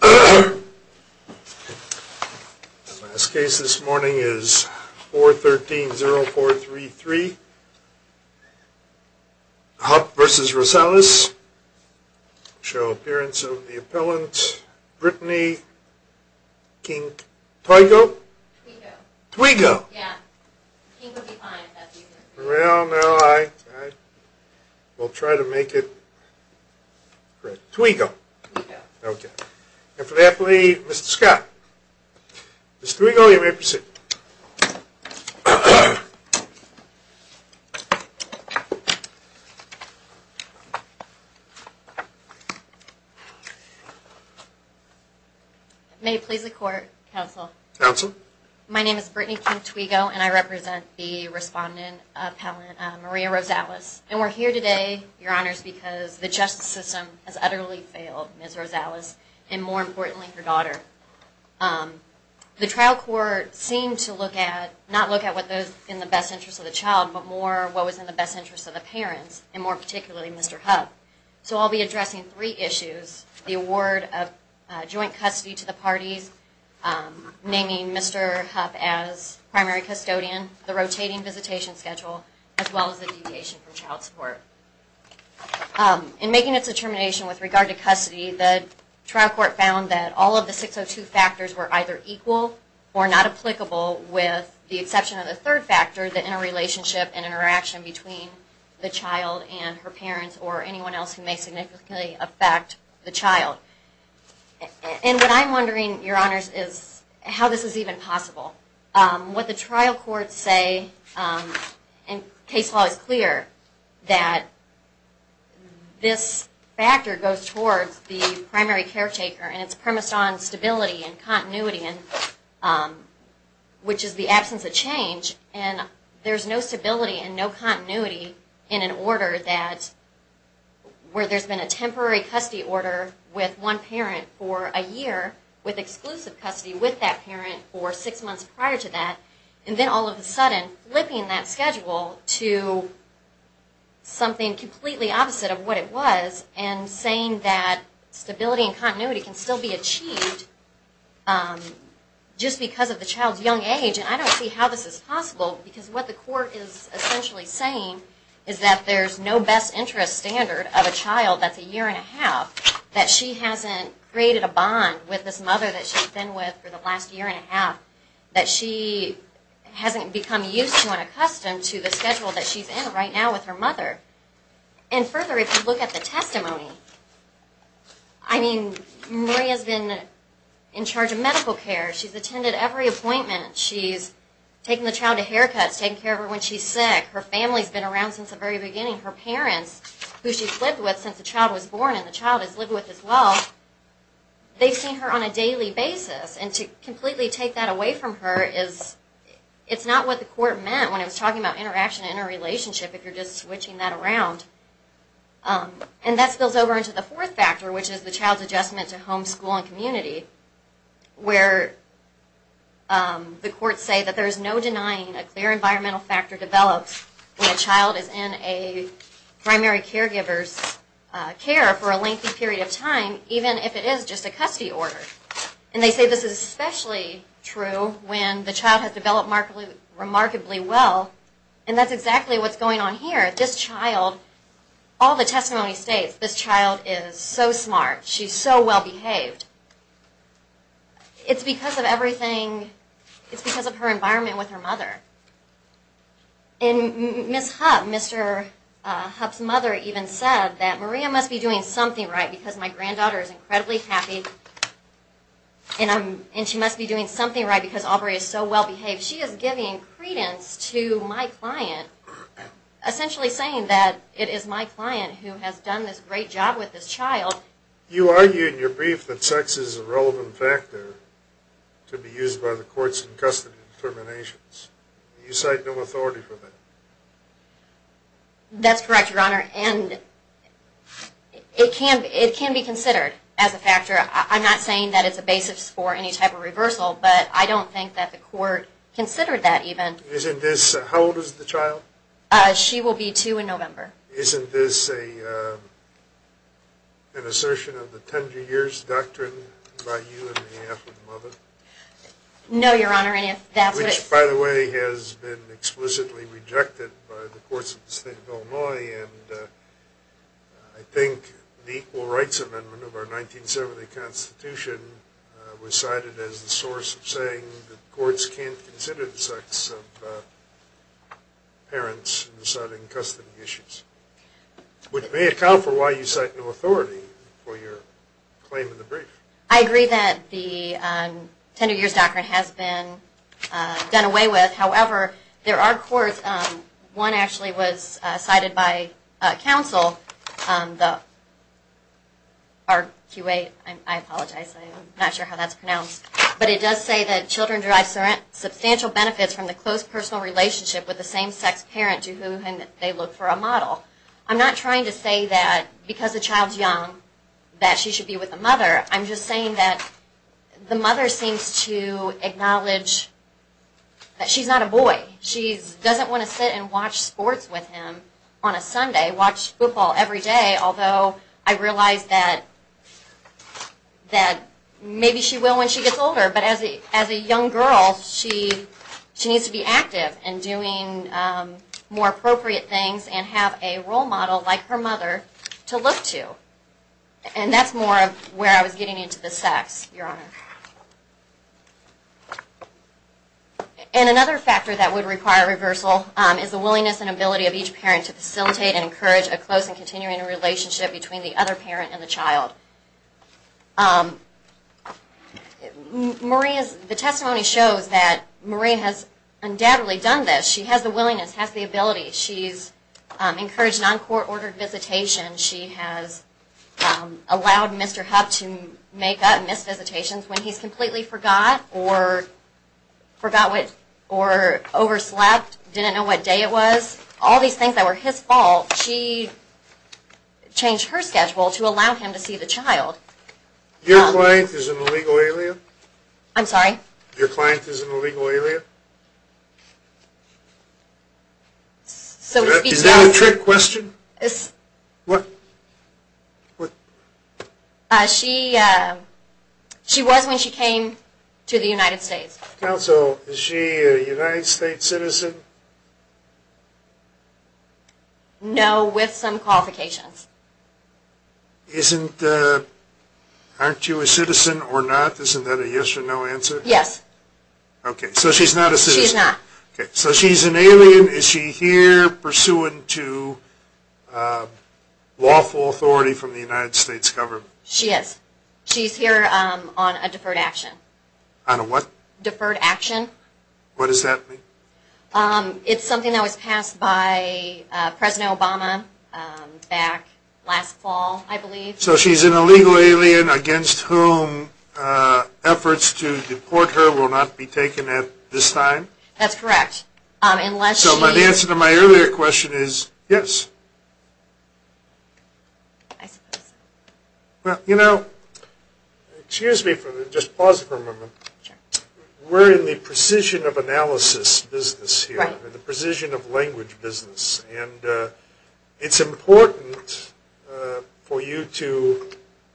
The last case this morning is 413-0433, Hupp v. Rosales, show appearance of the appellant Brittany Kink, Twigo? Twigo! Yeah, Kink would be fine if that's what you said. Well, now I will try to make it correct. Twigo. Twigo. Okay, and for the appellee, Mr. Scott. Ms. Twigo, you may proceed. May it please the Court, Counsel. Counsel. My name is Brittany Kink, Twigo, and I represent the respondent appellant, Maria Rosales, and we're here today, Your Honors, because the justice system has utterly failed Ms. Rosales, and more importantly, her daughter. The trial court seemed to look at, not look at what was in the best interest of the child, but more what was in the best interest of the parents, and more particularly Mr. Hupp. So I'll be addressing three issues, the award of joint custody to the parties, naming Mr. Hupp as primary custodian, the rotating visitation schedule, as well as the deviation from child support. In making its determination with regard to custody, the trial court found that all of the 602 factors were either equal or not applicable with the exception of the third factor, the interrelationship and interaction between the child and her parents or anyone else who may significantly affect the child. And what I'm wondering, Your Honors, is how this is even possible. What the trial courts say, and case law is clear, that this factor goes towards the primary caretaker, and it's premised on stability and continuity, which is the absence of change. And there's no stability and no continuity in an order that, where there's been a temporary custody order with one parent for a year, with exclusive custody with that parent for six months prior to that, and then all of a sudden flipping that schedule to something completely opposite of what it was, and saying that stability and continuity can still be achieved just because of the child's young age, and I don't see how this is possible. Because what the court is essentially saying is that there's no best interest standard of a child that's a year and a half, that she hasn't created a bond with this mother that she's been with for the last year and a half, that she hasn't become used to and accustomed to the schedule that she's in right now with her mother. And further, if you look at the testimony, I mean, Maria's been in charge of medical care, she's attended every appointment, she's taken the child to haircuts, taken care of her when she's sick, her family's been around since the very beginning, her parents, who she's lived with since the child was born and the child has lived with as well, they've seen her on a daily basis. And to completely take that away from her is, it's not what the court meant when it was talking about interaction and interrelationship, if you're just switching that around. And that spills over into the fourth factor, which is the child's adjustment to home, school, and community, where the courts say that there's no denying a clear environmental factor develops when a child is in a primary caregiver's care for a lengthy period of time, even if it is just a custody order. And they say this is especially true when the child has developed remarkably well, and that's exactly what's going on here. This child, all the testimony states, this child is so smart, she's so well-behaved. It's because of everything, it's because of her environment with her mother. And Ms. Hupp, Mr. Hupp's mother even said that Maria must be doing something right because my granddaughter is incredibly happy, and she must be doing something right because Aubrey is so well-behaved. She is giving credence to my client, essentially saying that it is my client who has done this great job with this child. You argue in your brief that sex is a relevant factor to be used by the courts in custody determinations. Do you cite no authority for that? That's correct, Your Honor, and it can be considered as a factor. I'm not saying that it's a basis for any type of reversal, but I don't think that the court considered that even. How old is the child? She will be two in November. Isn't this an assertion of the Tender Years Doctrine by you and your half-wit mother? No, Your Honor. Which, by the way, has been explicitly rejected by the courts of the state of Illinois. I think the Equal Rights Amendment of our 1970 Constitution was cited as the source of saying that courts can't consider the sex of parents in deciding custody issues, which may account for why you cite no authority for your claim in the brief. I agree that the Tender Years Doctrine has been done away with. However, there are courts, one actually was cited by counsel, the RQA, I apologize, I'm not sure how that's pronounced, but it does say that children derive substantial benefits from the close personal relationship with the same-sex parent to whom they look for a model. I'm not trying to say that because the child's young that she should be with the mother. I'm just saying that the mother seems to acknowledge that she's not a boy. She doesn't want to sit and watch sports with him on a Sunday, watch football every day, although I realize that maybe she will when she gets older. But as a young girl, she needs to be active and doing more appropriate things and have a role model like her mother to look to. And that's more of where I was getting into the sex, Your Honor. And another factor that would require reversal is the willingness and ability of each parent to facilitate and encourage a close and continuing relationship between the other parent and the child. The testimony shows that Marie has undoubtedly done this. She has the willingness, has the ability. She's encouraged non-court ordered visitation. She has allowed Mr. Hub to make up missed visitations when he's completely forgot or overslept, didn't know what day it was. All these things that were his fault, she changed her schedule to allow him to see the child. Your client is an illegal alien? I'm sorry? Your client is an illegal alien? Is that a trick question? What? She was when she came to the United States. Counsel, is she a United States citizen? No, with some qualifications. Isn't, aren't you a citizen or not? Isn't that a yes or no answer? Yes. Okay, so she's not a citizen. She's not. She is. She's here on a deferred action. On a what? Deferred action. What does that mean? It's something that was passed by President Obama back last fall, I believe. So she's an illegal alien against whom efforts to deport her will not be taken at this time? That's correct. So the answer to my earlier question is yes. I suppose. Well, you know, excuse me for just pause for a moment. Sure. We're in the precision of analysis business here. Right. The precision of language business. And it's important for you to,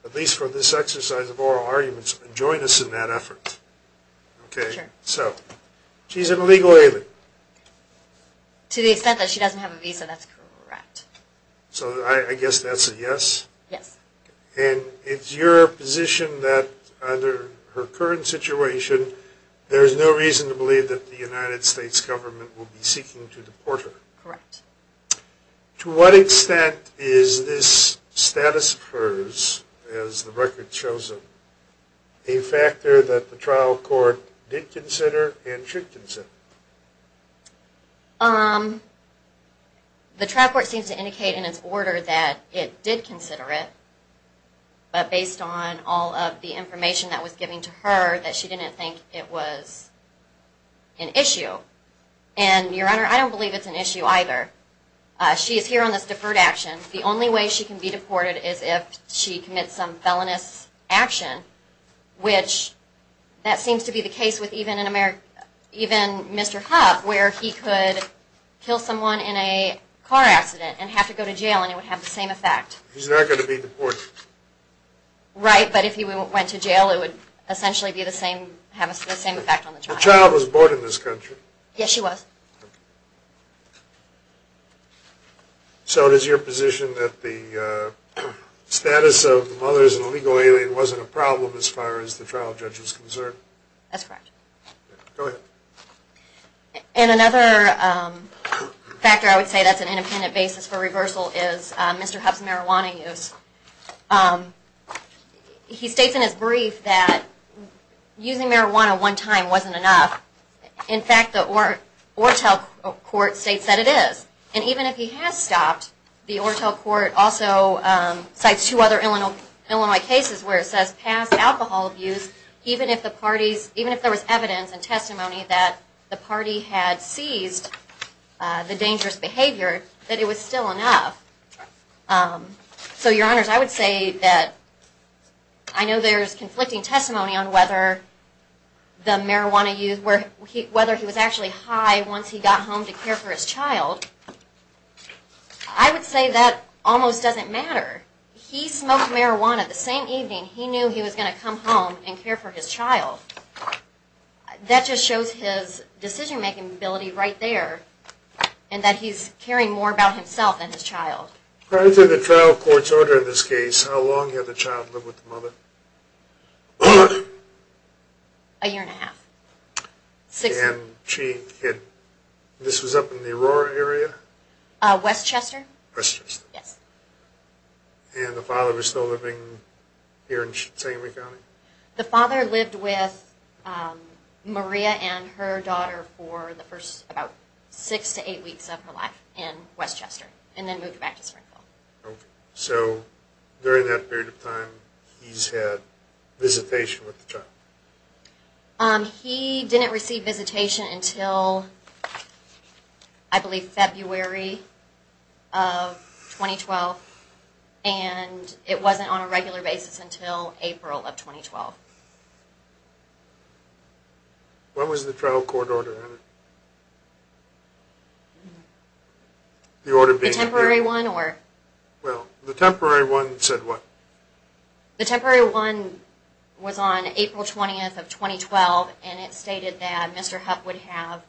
at least for this exercise of oral arguments, join us in that effort. Okay. Sure. So she's an illegal alien. To the extent that she doesn't have a visa, that's correct. So I guess that's a yes? Yes. And it's your position that under her current situation, there's no reason to believe that the United States government will be seeking to deport her? Correct. To what extent is this status of hers, as the record shows her, a factor that the trial court did consider and should consider? The trial court seems to indicate in its order that it did consider it. But based on all of the information that was given to her, that she didn't think it was an issue. And, Your Honor, I don't believe it's an issue either. She is here on this deferred action. The only way she can be deported is if she commits some felonious action, which that seems to be the case with even Mr. Huff, where he could kill someone in a car accident and have to go to jail, and it would have the same effect. He's not going to be deported. Right. But if he went to jail, it would essentially have the same effect on the trial. The child was born in this country? Yes, she was. So it is your position that the status of the mother as an illegal alien wasn't a problem as far as the trial judge is concerned? That's correct. Go ahead. And another factor, I would say that's an independent basis for reversal, is Mr. Huff's marijuana use. He states in his brief that using marijuana one time wasn't enough. In fact, the Ortel Court states that it is. And even if he has stopped, the Ortel Court also cites two other Illinois cases where it says past alcohol abuse, even if there was evidence and testimony that the party had seized the dangerous behavior, that it was still enough. So, Your Honors, I would say that I know there's conflicting testimony on whether the marijuana use, whether he was actually high once he got home to care for his child. I would say that almost doesn't matter. He smoked marijuana the same evening he knew he was going to come home and care for his child. That just shows his decision-making ability right there and that he's caring more about himself than his child. Prior to the trial court's order in this case, how long had the child lived with the mother? A year and a half. And she had, this was up in the Aurora area? Westchester. Westchester. Yes. And the father was still living here in St. Louis County? The father lived with Maria and her daughter for the first, about six to eight weeks of her life in Westchester and then moved back to Springfield. Okay. So, during that period of time, he's had visitation with the child? He didn't receive visitation until, I believe, February of 2012. And it wasn't on a regular basis until April of 2012. When was the trial court order entered? The temporary one or? Well, the temporary one said what? The temporary one was on April 20th of 2012 and it stated that Mr. Hupp would have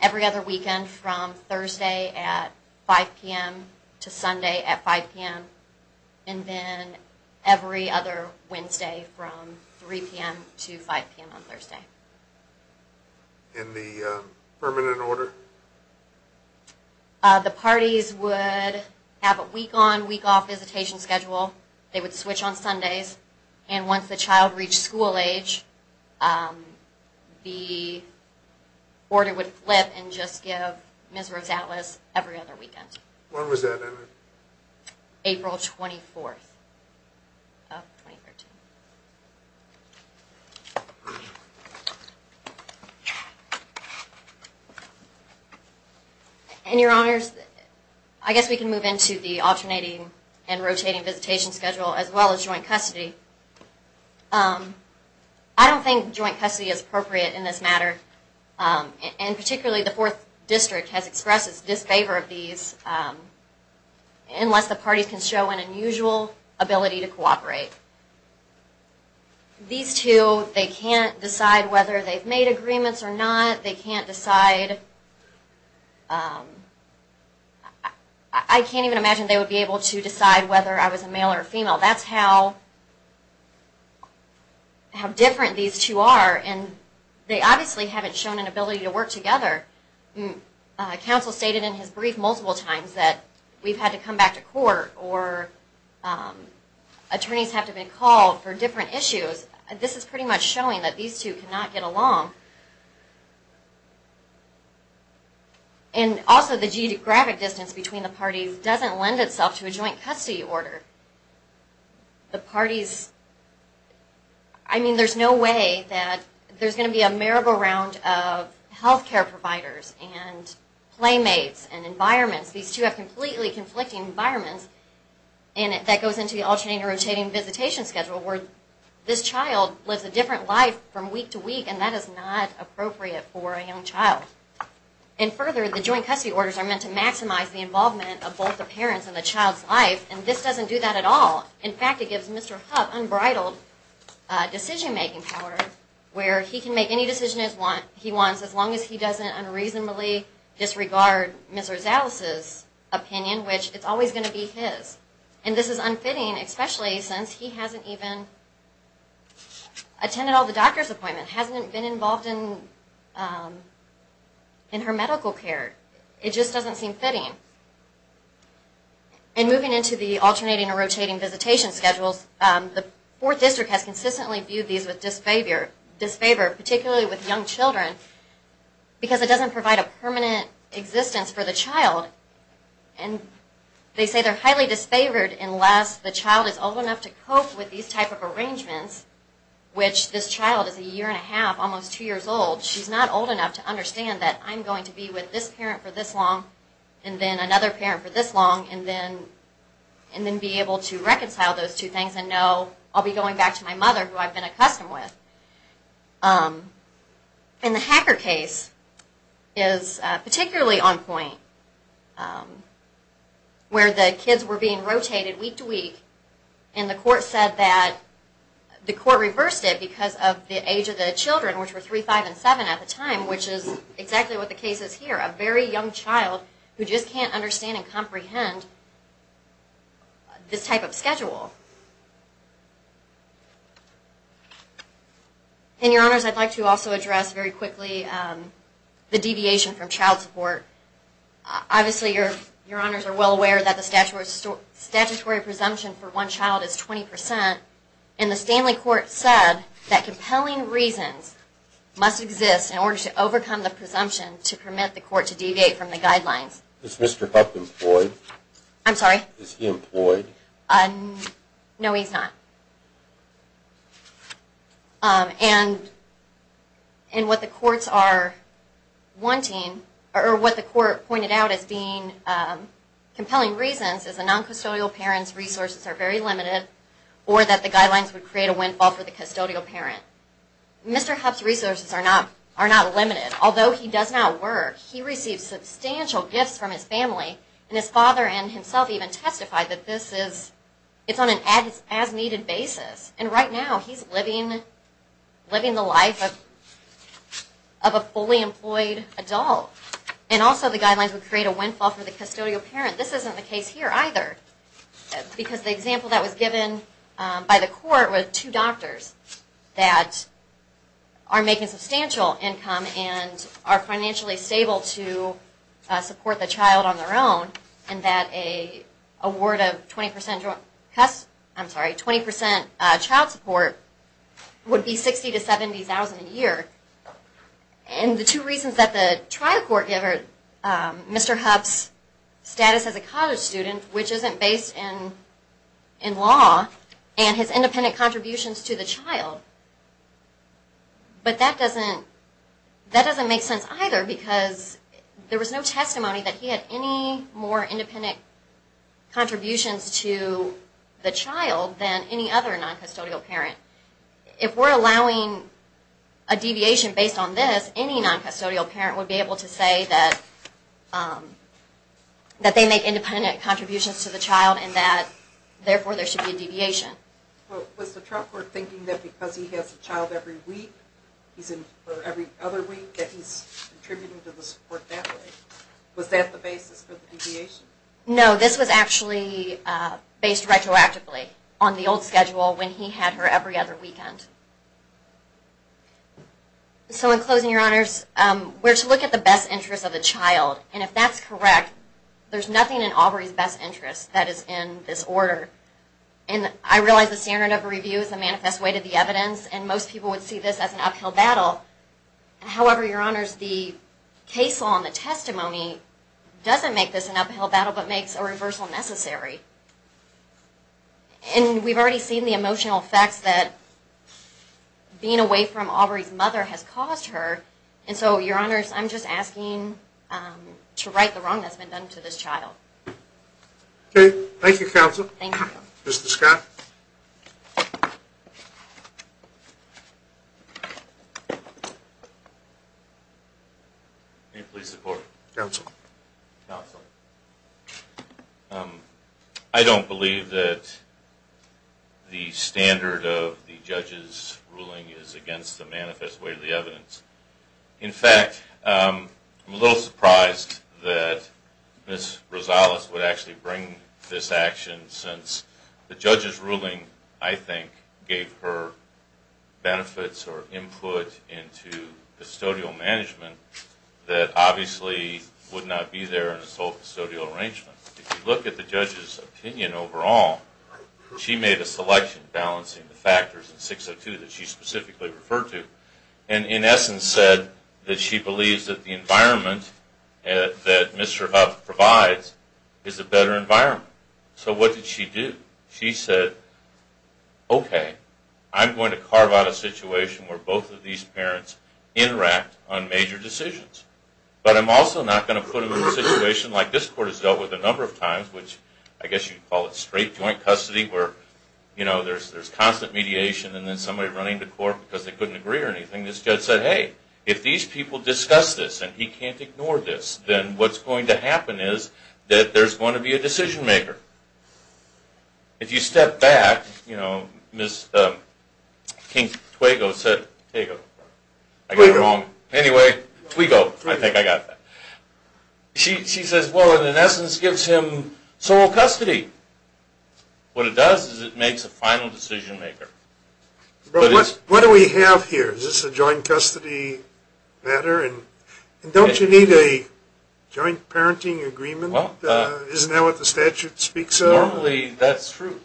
every other weekend from Thursday at 5 p.m. to Sunday at 5 p.m. and then every other Wednesday from 3 p.m. to 5 p.m. on Thursday. And the permanent order? The parties would have a week-on, week-off visitation schedule. They would switch on Sundays. And once the child reached school age, the order would flip and just give Ms. Rosales every other weekend. When was that, Emily? April 24th of 2013. And, Your Honors, I guess we can move into the alternating and rotating visitation schedule as well as joint custody. I don't think joint custody is appropriate in this matter, and particularly the Fourth District has expressed its disfavor of these unless the parties can show an unusual ability to cooperate. These two, they can't decide whether they've made agreements or not. They can't decide, I can't even imagine they would be able to decide whether I was a male or a female. That's how different these two are, and they obviously haven't shown an ability to work together. Counsel stated in his brief multiple times that we've had to come back to court or attorneys have to be called for different issues. This is pretty much showing that these two cannot get along. And also the geographic distance between the parties doesn't lend itself to a joint custody order. The parties, I mean there's no way that there's going to be a merry-go-round of health care providers and playmates and environments. These two have completely conflicting environments, and that goes into the alternating and rotating visitation schedule where this child lives a different life from week to week, and that is not appropriate for a young child. And further, the joint custody orders are meant to maximize the involvement of both the parents and the child's life, and this doesn't do that at all. In fact, it gives Mr. Huff unbridled decision-making power where he can make any decision he wants as long as he doesn't unreasonably disregard Ms. Rosales' opinion, which it's always going to be his. And this is unfitting, especially since he hasn't even attended all the doctor's appointments, hasn't been involved in her medical care. It just doesn't seem fitting. And moving into the alternating and rotating visitation schedules, the Fourth District has consistently viewed these with disfavor, particularly with young children, because it doesn't provide a permanent existence for the child. And they say they're highly disfavored unless the child is old enough to cope with these type of arrangements, which this child is a year and a half, almost two years old. She's not old enough to understand that I'm going to be with this parent for this long and then another parent for this long and then be able to reconcile those two things and know I'll be going back to my mother who I've been accustomed with. And the Hacker case is particularly on point, where the kids were being rotated week to week and the court reversed it because of the age of the children, which were 3, 5, and 7 at the time, which is exactly what the case is here. A very young child who just can't understand and comprehend this type of schedule. And, Your Honors, I'd like to also address very quickly the deviation from child support. Obviously, Your Honors are well aware that the statutory presumption for one child is 20%, and the Stanley Court said that compelling reasons must exist in order to overcome the presumption to permit the court to deviate from the guidelines. Is Mr. Hupp employed? I'm sorry? Is he employed? No, he's not. And what the courts are wanting, or what the court pointed out as being compelling reasons, is a non-custodial parent's resources are very limited or that the guidelines would create a windfall for the custodial parent. Mr. Hupp's resources are not limited. Although he does not work, he receives substantial gifts from his family, and his father and himself even testified that this is on an as-needed basis. And right now he's living the life of a fully employed adult. And also the guidelines would create a windfall for the custodial parent. This isn't the case here either. Because the example that was given by the court were two doctors that are making substantial income and are financially stable to support the child on their own, and that an award of 20% child support would be $60,000 to $70,000 a year. And the two reasons that the trial court given Mr. Hupp's status as a college student, which isn't based in law, and his independent contributions to the child, but that doesn't make sense either because there was no testimony that he had any more independent contributions to the child than any other non-custodial parent. If we're allowing a deviation based on this, any non-custodial parent would be able to say that they make independent contributions to the child and that therefore there should be a deviation. Was the trial court thinking that because he has a child every week, or every other week, that he's contributing to the support that way? Was that the basis for the deviation? No, this was actually based retroactively on the old schedule when he had her every other weekend. So in closing, Your Honors, we're to look at the best interest of the child. And if that's correct, there's nothing in Aubrey's best interest that is in this order. And I realize the standard of review is a manifest way to the evidence, and most people would see this as an uphill battle. However, Your Honors, the case law and the testimony doesn't make this an uphill battle, but makes a reversal necessary. And we've already seen the emotional effects that being away from Aubrey's mother has caused her. And so, Your Honors, I'm just asking to right the wrong that's been done to this child. Okay. Thank you, Counsel. Thank you. Mr. Scott. May it please the Court. Counsel. Counsel. I don't believe that the standard of the judge's ruling is against the manifest way to the evidence. In fact, I'm a little surprised that Ms. Rosales would actually bring this action since the judge's ruling, I think, gave her benefits or input into custodial management that obviously would not be there in a sole custodial arrangement. If you look at the judge's opinion overall, she made a selection balancing the factors in 602 that she specifically referred to. And in essence said that she believes that the environment that Mr. Huff provides is a better environment. So what did she do? She said, okay, I'm going to carve out a situation where both of these parents interact on major decisions. But I'm also not going to put them in a situation like this Court has dealt with a number of times, which I guess you could call it straight joint custody where, you know, there's constant mediation and then somebody running the Court because they couldn't agree or anything. This judge said, hey, if these people discuss this and he can't ignore this, then what's going to happen is that there's going to be a decision maker. If you step back, you know, Ms. King-Twego said... I got it wrong. Anyway, Twego, I think I got that. She says, well, it in essence gives him sole custody. What it does is it makes a final decision maker. But what do we have here? Is this a joint custody matter? And don't you need a joint parenting agreement? Isn't that what the statute speaks of? Normally, that's true.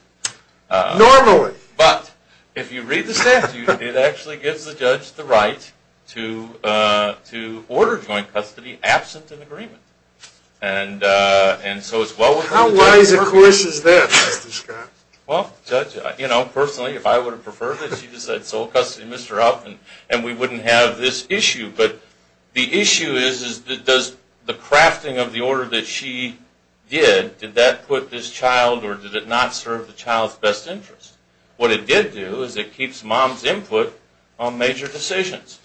Normally? But if you read the statute, it actually gives the judge the right to order joint custody absent an agreement. And so it's well worth... How wise, of course, is that, Mr. Scott? Well, you know, personally, if I would have preferred it, she'd have said, sole custody, Mr. Upton, and we wouldn't have this issue. But the issue is, is that does the crafting of the order that she did, did that put this child or did it not serve the child's best interest? What it did do is it keeps mom's input on major decisions.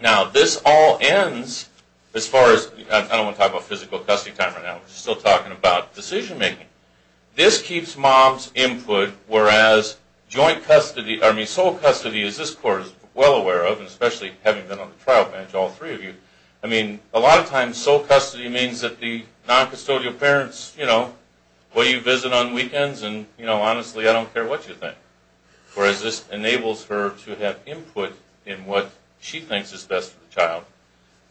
Now, this all ends as far as... I don't want to talk about physical custody time right now. We're still talking about decision making. This keeps mom's input, whereas joint custody... I mean, sole custody, as this court is well aware of, and especially having been on the trial bench, all three of you, I mean, a lot of times, sole custody means that the noncustodial parents, you know, what do you visit on weekends? And, you know, honestly, I don't care what you think. Whereas this enables her to have input in what she thinks is best for the child.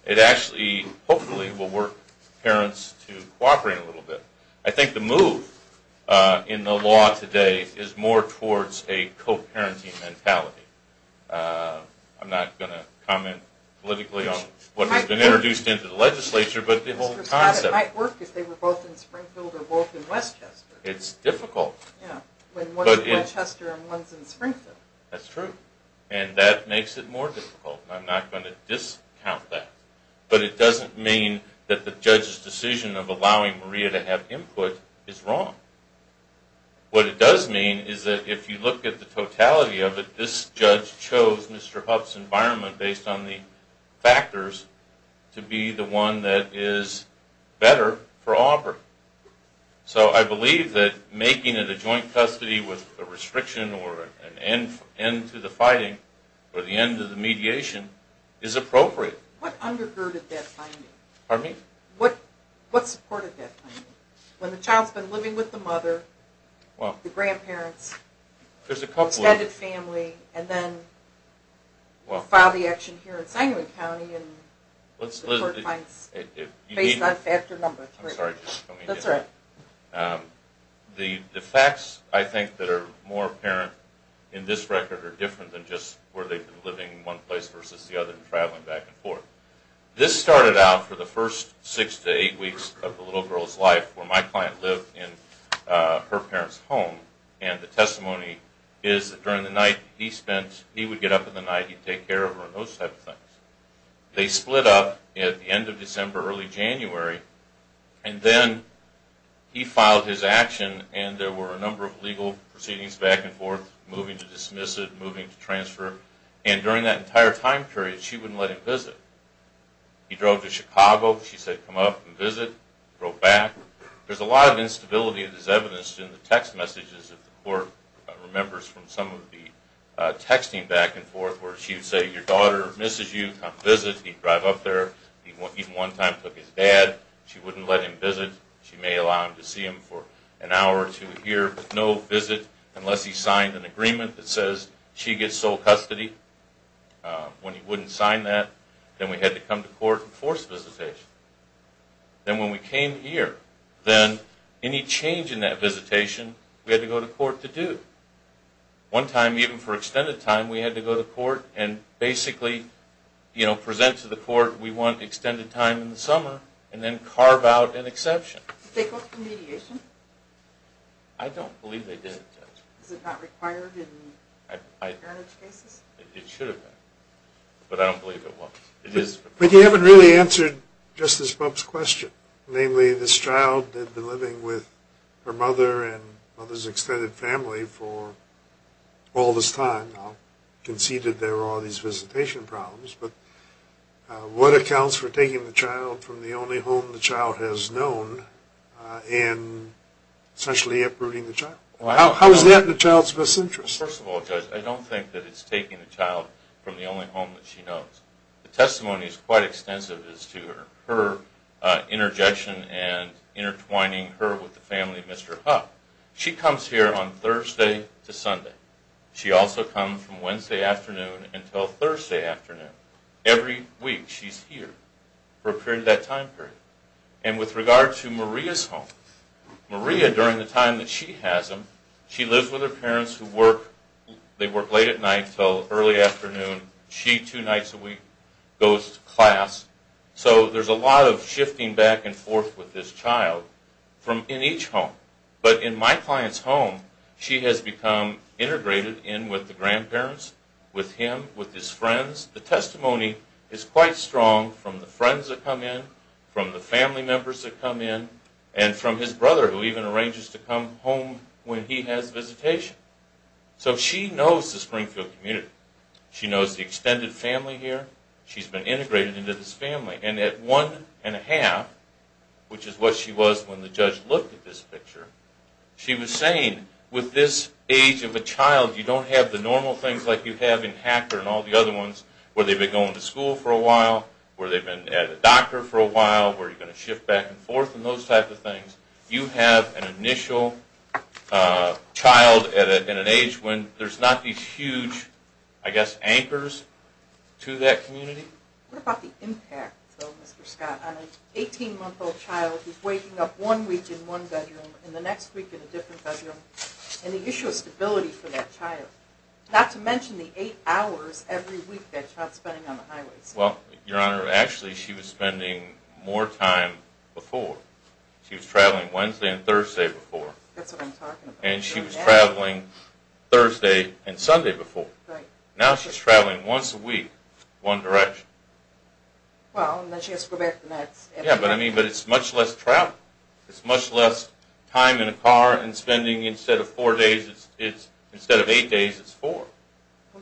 It actually, hopefully, will work parents to cooperate a little bit. I think the move in the law today is more towards a co-parenting mentality. I'm not going to comment politically on what has been introduced into the legislature, but the whole concept. It might work if they were both in Springfield or both in Westchester. It's difficult. Yeah, when one's in Westchester and one's in Springfield. That's true. And that makes it more difficult, and I'm not going to discount that. But it doesn't mean that the judge's decision of allowing Maria to have input is wrong. What it does mean is that if you look at the totality of it, this judge chose Mr. Huff's environment, based on the factors, to be the one that is better for Aubrey. So I believe that making it a joint custody with a restriction or an end to the fighting or the end of the mediation is appropriate. What undergirded that finding? Pardon me? What supported that finding? When the child's been living with the mother, the grandparents, extended family, and then filed the action here in Sanguine County, and the court finds based on factor number three. That's right. The facts, I think, that are more apparent in this record are different than just where they've been living in one place versus the other and traveling back and forth. This started out for the first six to eight weeks of the little girl's life, where my client lived in her parents' home. And the testimony is that during the night he spent, he would get up in the night, he'd take care of her and those types of things. They split up at the end of December, early January, and then he filed his action and there were a number of legal proceedings back and forth, moving to dismiss it, moving to transfer. And during that entire time period, she wouldn't let him visit. He drove to Chicago. She said, come up and visit. He drove back. There's a lot of instability in this evidence in the text messages that the court remembers from some of the texting back and forth where she would say, your daughter misses you. Come visit. He'd drive up there. He even one time took his dad. She wouldn't let him visit. She may allow him to see him for an hour or two here, but no visit unless he signed an agreement that says she gets sole custody. When he wouldn't sign that, then we had to come to court and force visitation. Then when we came here, then any change in that visitation, we had to go to court to do. One time, even for extended time, we had to go to court and basically present to the court we want extended time in the summer and then carve out an exception. Did they go to mediation? I don't believe they did. Is it not required in parentage cases? It should have been. But I don't believe it was. But you haven't really answered Justice Bump's question. Namely, this child had been living with her mother and mother's extended family for all this time. I'll concede that there are these visitation problems, but what accounts for taking the child from the only home the child has known and essentially uprooting the child? How is that in the child's best interest? First of all, Judge, I don't think that it's taking the child from the only home that she knows. The testimony is quite extensive as to her interjection and intertwining her with the family of Mr. Huck. She comes here on Thursday to Sunday. She also comes from Wednesday afternoon until Thursday afternoon. Every week she's here for a period of that time period. And with regard to Maria's home, Maria, during the time that she has them, she lives with her parents who work late at night until early afternoon. She, two nights a week, goes to class. So there's a lot of shifting back and forth with this child in each home. But in my client's home, she has become integrated in with the grandparents, with him, with his friends. The testimony is quite strong from the friends that come in, from the family members that come in, and from his brother who even arranges to come home when he has visitation. So she knows the Springfield community. She knows the extended family here. She's been integrated into this family. And at one and a half, which is what she was when the judge looked at this picture, she was saying, with this age of a child, you don't have the normal things like you have in Hacker and all the other ones, where they've been going to school for a while, where they've been at a doctor for a while, where you're going to shift back and forth and those type of things. You have an initial child at an age when there's not these huge, I guess, anchors to that community. What about the impact, though, Mr. Scott, on an 18-month-old child who's waking up one week in one bedroom and the next week in a different bedroom, and the issue of stability for that child? Not to mention the eight hours every week that child's spending on the highway. Well, Your Honor, actually she was spending more time before. She was traveling Wednesday and Thursday before. That's what I'm talking about. And she was traveling Thursday and Sunday before. Now she's traveling once a week, one direction. Well, and then she has to go back the next afternoon. Yeah, but it's much less travel. It's much less time in a car and spending, instead of four days, instead of eight days, it's four.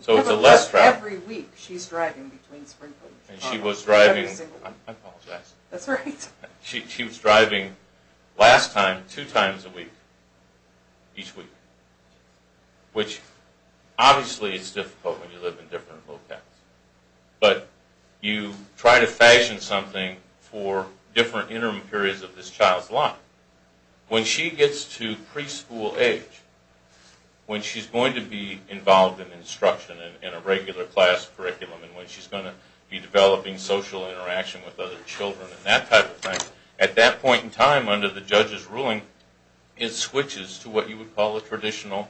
So it's less travel. Every week she's driving between Springfield and Chicago. And she was driving, I apologize. That's all right. She was driving, last time, two times a week, each week, which obviously is difficult when you live in different locales. But you try to fashion something for different interim periods of this child's life. When she gets to preschool age, when she's going to be involved in instruction in a regular class curriculum and when she's going to be developing social interaction with other children and that type of thing, at that point in time, under the judge's ruling, it switches to what you would call a traditional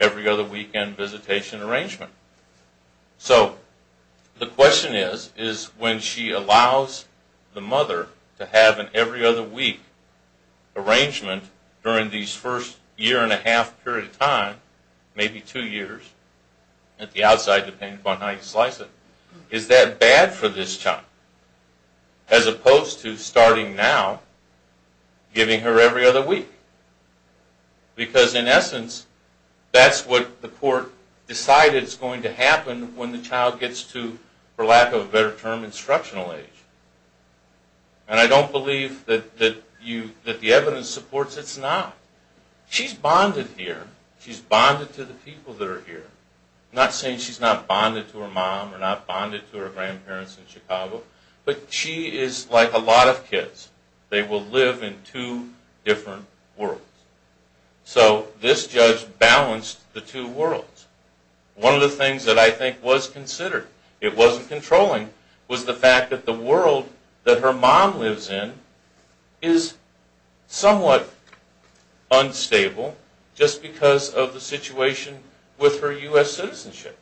every-other-weekend visitation arrangement. So the question is, is when she allows the mother to have an every-other-week arrangement during these first year-and-a-half period of time, maybe two years, at the outside, depending upon how you slice it, is that bad for this child? As opposed to, starting now, giving her every other week. Because in essence, that's what the court decided is going to happen when the child gets to, for lack of a better term, instructional age. And I don't believe that the evidence supports it's not. She's bonded here. She's bonded to the people that are here. I'm not saying she's not bonded to her mom or not bonded to her grandparents in Chicago, but she is like a lot of kids. They will live in two different worlds. So this judge balanced the two worlds. One of the things that I think was considered, it wasn't controlling, was the fact that the world that her mom lives in is somewhat unstable just because of the situation with her U.S. citizenship.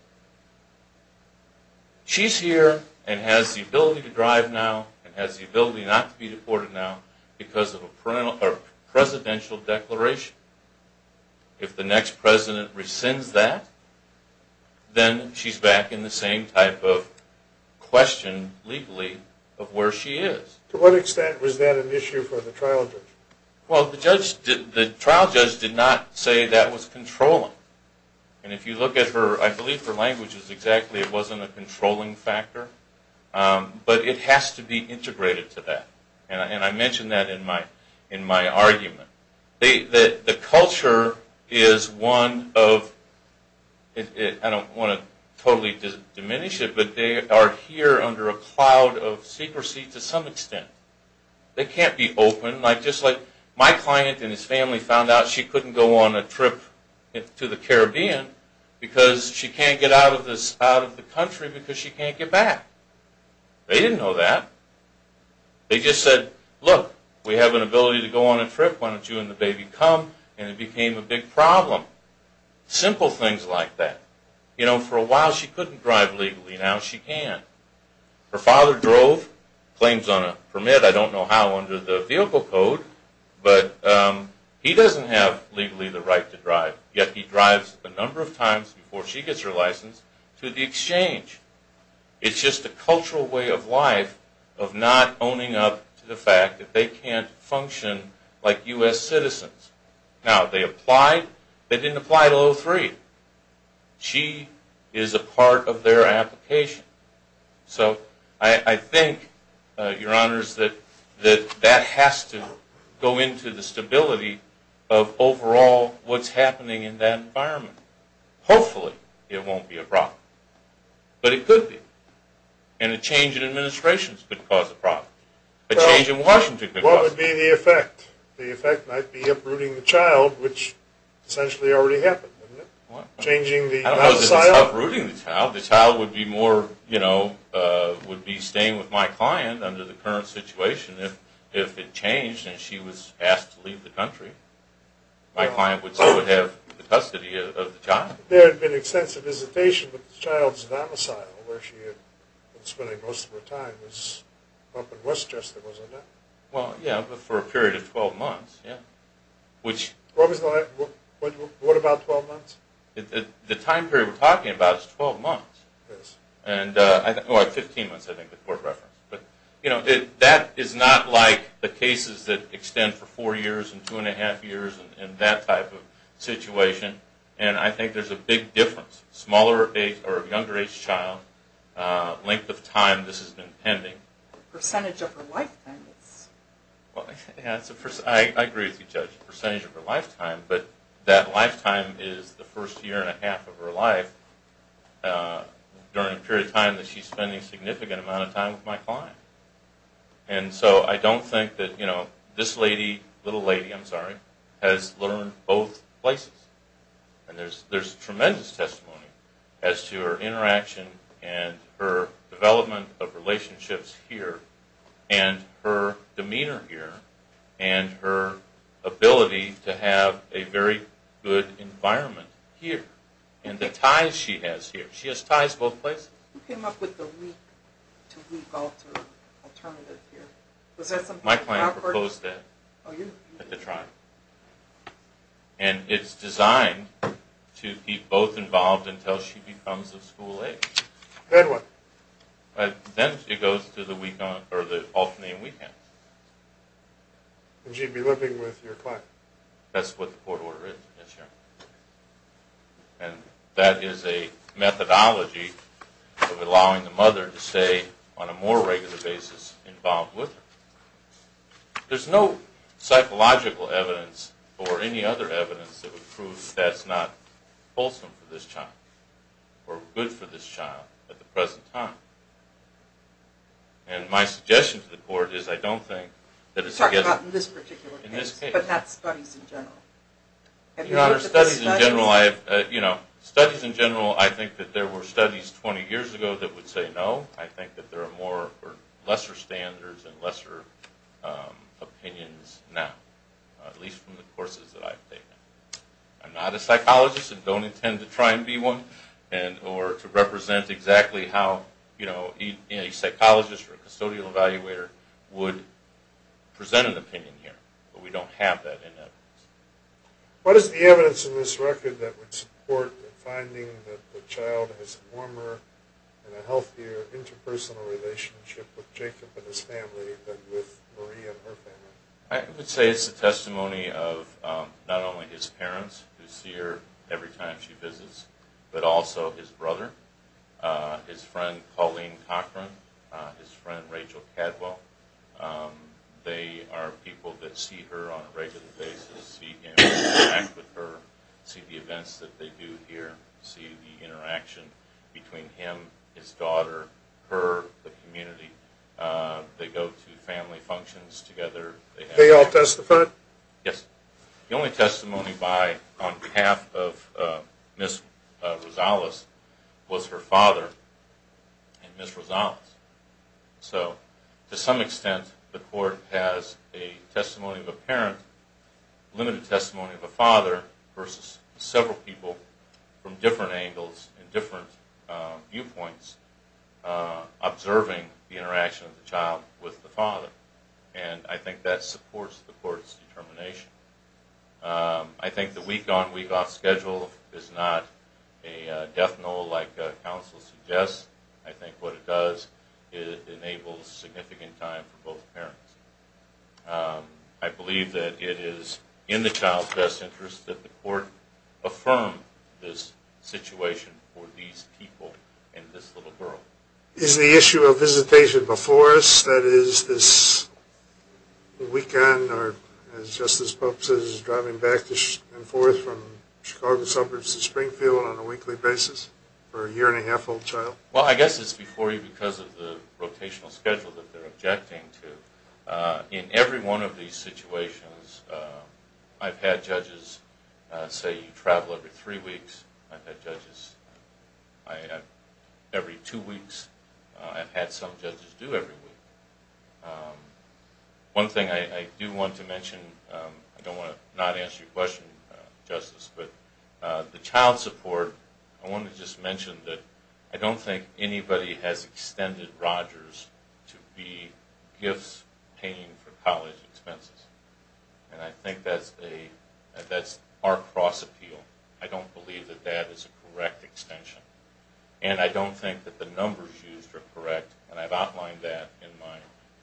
She's here and has the ability to drive now and has the ability not to be deported now because of a presidential declaration. If the next president rescinds that, then she's back in the same type of question, legally, of where she is. To what extent was that an issue for the trial judge? Well, the trial judge did not say that was controlling. And if you look at her, I believe her language is exactly it wasn't a controlling factor. But it has to be integrated to that. And I mention that in my argument. The culture is one of, I don't want to totally diminish it, but they are here under a cloud of secrecy to some extent. They can't be open. Just like my client and his family found out she couldn't go on a trip to the Caribbean because she can't get out of the country because she can't get back. They didn't know that. They just said, look, we have an ability to go on a trip. Why don't you and the baby come? And it became a big problem. Simple things like that. You know, for a while she couldn't drive legally. Now she can. Her father drove. Claims on a permit. I don't know how under the vehicle code. But he doesn't have legally the right to drive. Yet he drives a number of times before she gets her license to the exchange. It's just a cultural way of life of not owning up to the fact that they can't function like U.S. citizens. Now, they applied. They didn't apply to O3. She is a part of their application. So I think, Your Honors, that that has to go into the stability of overall what's happening in that environment. Hopefully it won't be a problem. But it could be. And a change in administrations could cause a problem. A change in Washington could cause a problem. Well, what would be the effect? The effect might be uprooting the child, which essentially already happened. What? Changing the domicile. I don't know if it's uprooting the child. The child would be more, you know, would be staying with my client under the current situation if it changed and she was asked to leave the country. My client would still have custody of the child. There had been extensive visitation with the child's domicile where she had been spending most of her time was up in Westchester, wasn't it? Well, yeah, but for a period of 12 months, yeah. What about 12 months? The time period we're talking about is 12 months. Yes. Oh, 15 months, I think the court referenced. But, you know, that is not like the cases that extend for 4 years and 2 1⁄2 years and that type of situation. And I think there's a big difference. Smaller age or younger age child, length of time this has been pending. Percentage of her life, then. I agree with you, Judge. Percentage of her lifetime, but that lifetime is the first year and a half of her life during a period of time that she's spending a significant amount of time with my client. And so I don't think that, you know, this lady, little lady, I'm sorry, has learned both places. And there's tremendous testimony as to her interaction and her development of relationships here and her demeanor here and her ability to have a very good environment here and the ties she has here. She has ties both places. Who came up with the week-to-week alternative here? My client proposed that at the trial. And it's designed to keep both involved until she becomes of school age. Then what? Or the alternate weekend. Would she be living with your client? That's what the court order is, yes, Your Honor. And that is a methodology of allowing the mother to stay on a more regular basis involved with her. There's no psychological evidence or any other evidence that would prove that's not wholesome for this child or good for this child at the present time. And my suggestion to the court is I don't think... You're talking about in this particular case, but that's studies in general. Your Honor, studies in general, I have, you know, studies in general, I think that there were studies 20 years ago that would say no. I think that there are more or lesser standards and lesser opinions now, at least from the courses that I've taken. I'm not a psychologist and don't intend to try and be one or to represent exactly how a psychologist or a custodial evaluator would present an opinion here. But we don't have that in evidence. What is the evidence in this record that would support the finding that the child has a warmer and a healthier interpersonal relationship with Jacob and his family than with Marie and her family? I would say it's a testimony of not only his parents, who see her every time she visits, but also his brother, his friend Colleen Cochran, his friend Rachel Cadwell. They are people that see her on a regular basis, see him interact with her, see the events that they do here, see the interaction between him, his daughter, her, the community. They go to family functions together. They all testify? Yes. The only testimony on behalf of Ms. Rosales was her father and Ms. Rosales. So to some extent, the court has a testimony of a parent, limited testimony of a father versus several people from different angles and different viewpoints observing the interaction of the child with the father. And I think that supports the court's determination. I think the week on, week off schedule is not a death knell like counsel suggests. I think what it does, it enables significant time for both parents. I believe that it is in the child's best interest that the court affirm this situation for these people and this little girl. Is the issue of visitation before us, that is, this weekend, or as Justice Pope says, driving back and forth from Chicago suburbs to Springfield on a weekly basis for a year-and-a-half-old child? Well, I guess it's before you because of the rotational schedule that they're objecting to. In every one of these situations, you travel every three weeks. I've had judges every two weeks. I've had some judges do every week. One thing I do want to mention, I don't want to not answer your question, Justice, but the child support, I want to just mention that I don't think anybody has extended Rogers to be gifts paying for college expenses. And I think that's our cross-appeal. I don't believe that that is a correct extension. And I don't think that the numbers used are correct. And I've outlined that in my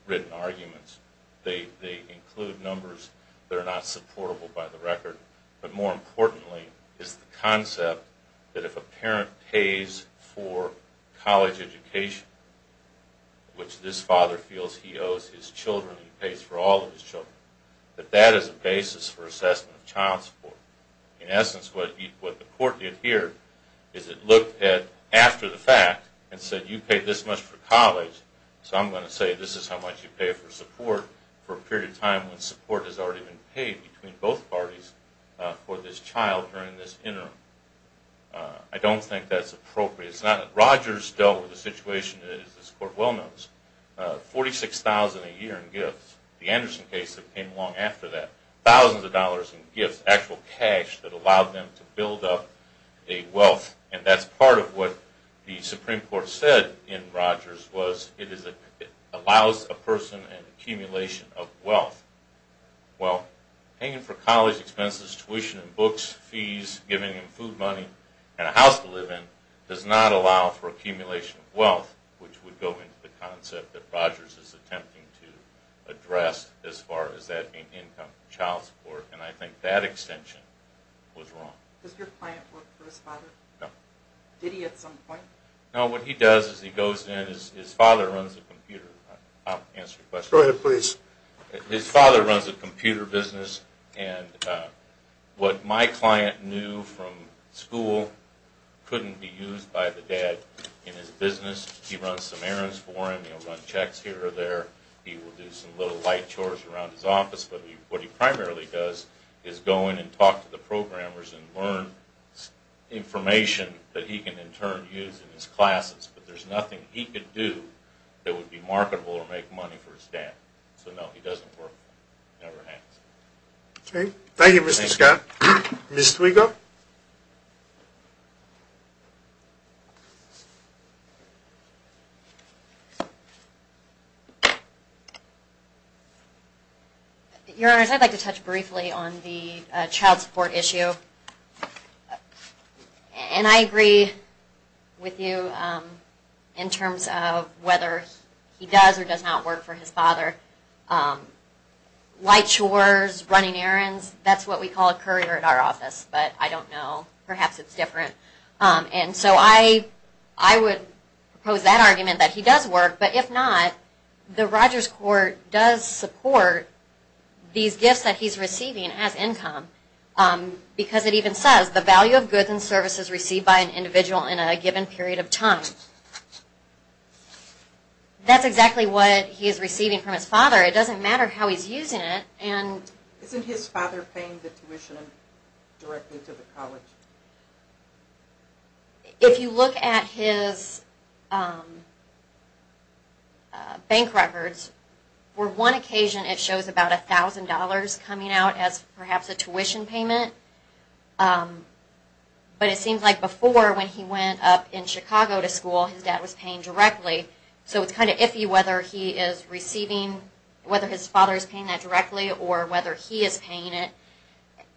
written arguments. They include numbers that are not supportable by the record. But more importantly is the concept that if a parent pays for college education, which this father feels he owes his children, he pays for all of his children, that that is a basis for assessment of child support. In essence, what the court did here is it looked at after the fact and said you paid this much for college, so I'm going to say this is how much you pay for support for a period of time when support has already been paid between both parties for this child during this interim. I don't think that's appropriate. Rogers dealt with a situation, as this Court well knows, $46,000 a year in gifts. The Anderson case came along after that. Thousands of dollars in gifts, actual cash that allowed them to build up a wealth. And that's part of what the Supreme Court said in Rogers was it allows a person an accumulation of wealth. Well, paying for college expenses, tuition and books, fees, giving him food money, and a house to live in does not allow for accumulation of wealth, which would go into the concept that Rogers is attempting to address as far as that income, child support. And I think that extension was wrong. Does your client work for his father? No. Did he at some point? No, what he does is he goes in. His father runs a computer. I'll answer your question. Go ahead, please. His father runs a computer business, and what my client knew from school couldn't be used by the dad in his business. He runs some errands for him. He'll run checks here or there. He will do some little light chores around his office. But what he primarily does is go in and talk to the programmers and learn information that he can in turn use in his classes. But there's nothing he could do that would be marketable or make money for his dad. So, no, he doesn't work for him. It never happens. Okay. Thank you, Mr. Scott. Ms. Twiga? Your Honors, I'd like to touch briefly on the child support issue. And I agree with you in terms of whether he does or does not work for his father. Light chores, running errands, that's what we call a courier at our office. But I don't know. Perhaps it's different. And so I would propose that argument, that he does work. But if not, the Rogers Court does support these gifts that he's receiving as income because it even says, the value of goods and services received by an individual in a given period of time. That's exactly what he is receiving from his father. It doesn't matter how he's using it. Isn't his father paying the tuition directly to the college? If you look at his bank records, for one occasion it shows about $1,000 coming out as perhaps a tuition payment. But it seems like before when he went up in Chicago to school, his dad was paying directly. So it's kind of iffy whether he is receiving, whether his father is paying that directly or whether he is paying it.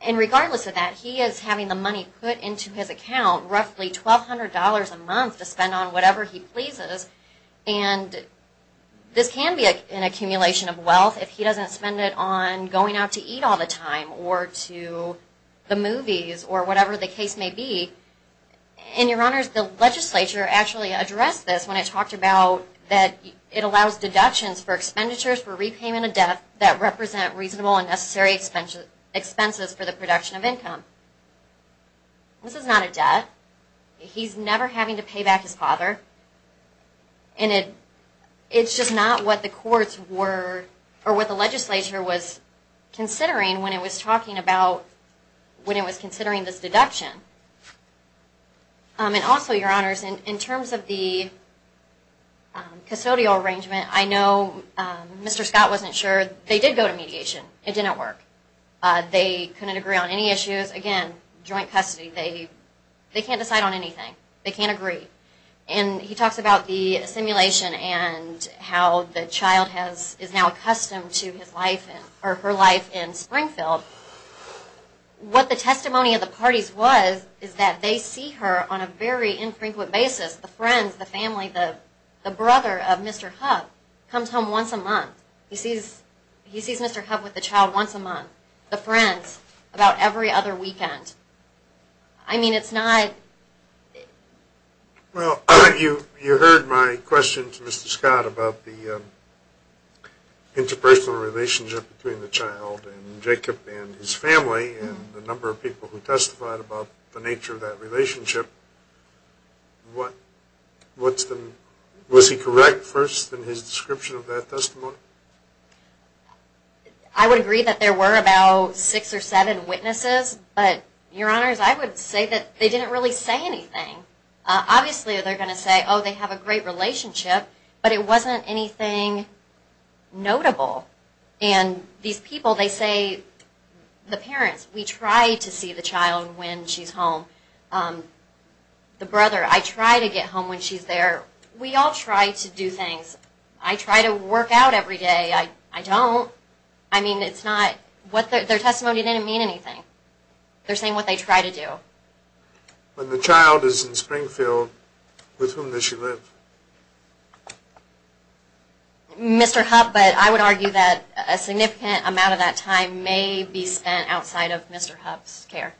And regardless of that, he is having the money put into his account, roughly $1,200 a month to spend on whatever he pleases. And this can be an accumulation of wealth if he doesn't spend it on going out to eat all the time or to the movies or whatever the case may be. And your honors, the legislature actually addressed this when it talked about that it allows deductions for expenditures for repayment of debt that represent reasonable and necessary expenses for the production of income. This is not a debt. He's never having to pay back his father. And it's just not what the courts were, or what the legislature was considering when it was talking about, when it was considering this deduction. And also, your honors, in terms of the custodial arrangement, I know Mr. Scott wasn't sure. They did go to mediation. It didn't work. They couldn't agree on any issues. They can't agree. And he talks about the simulation and how the child is now accustomed to her life in Springfield. What the testimony of the parties was is that they see her on a very infrequent basis. The friends, the family, the brother of Mr. Hubb comes home once a month. He sees Mr. Hubb with the child once a month. The friends about every other weekend. I mean, it's not... Well, you heard my question to Mr. Scott about the interpersonal relationship between the child and Jacob and his family and the number of people who testified about the nature of that relationship. What's the... Was he correct first in his description of that testimony? I would agree that there were about six or seven witnesses, but, your honors, I would say that they didn't really say anything. Obviously, they're going to say, oh, they have a great relationship, but it wasn't anything notable. And these people, they say, the parents, we try to see the child when she's home. The brother, I try to get home when she's there. We all try to do things. I try to work out every day. I don't. I mean, it's not... Their testimony didn't mean anything. They're saying what they try to do. When the child is in Springfield, with whom does she live? Mr. Hubb, but I would argue that a significant amount of that time may be spent outside of Mr. Hubb's care.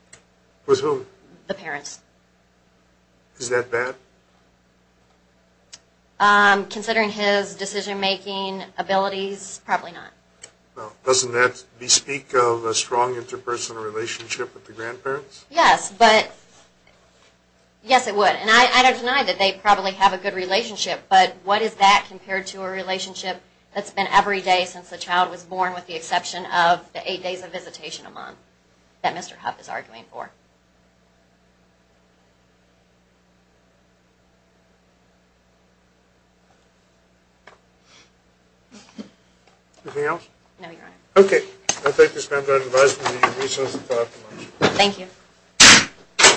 With whom? The parents. Is that bad? Considering his decision-making abilities, probably not. Doesn't that bespeak of a strong interpersonal relationship with the grandparents? Yes, but... Yes, it would. And I don't deny that they probably have a good relationship, but what is that compared to a relationship that's been every day since the child was born with the exception of the eight days of visitation a month that Mr. Hubb is arguing for? Anything else? No, Your Honor. Okay. I thank this member of the advisory committee for your resourceful testimony. Thank you.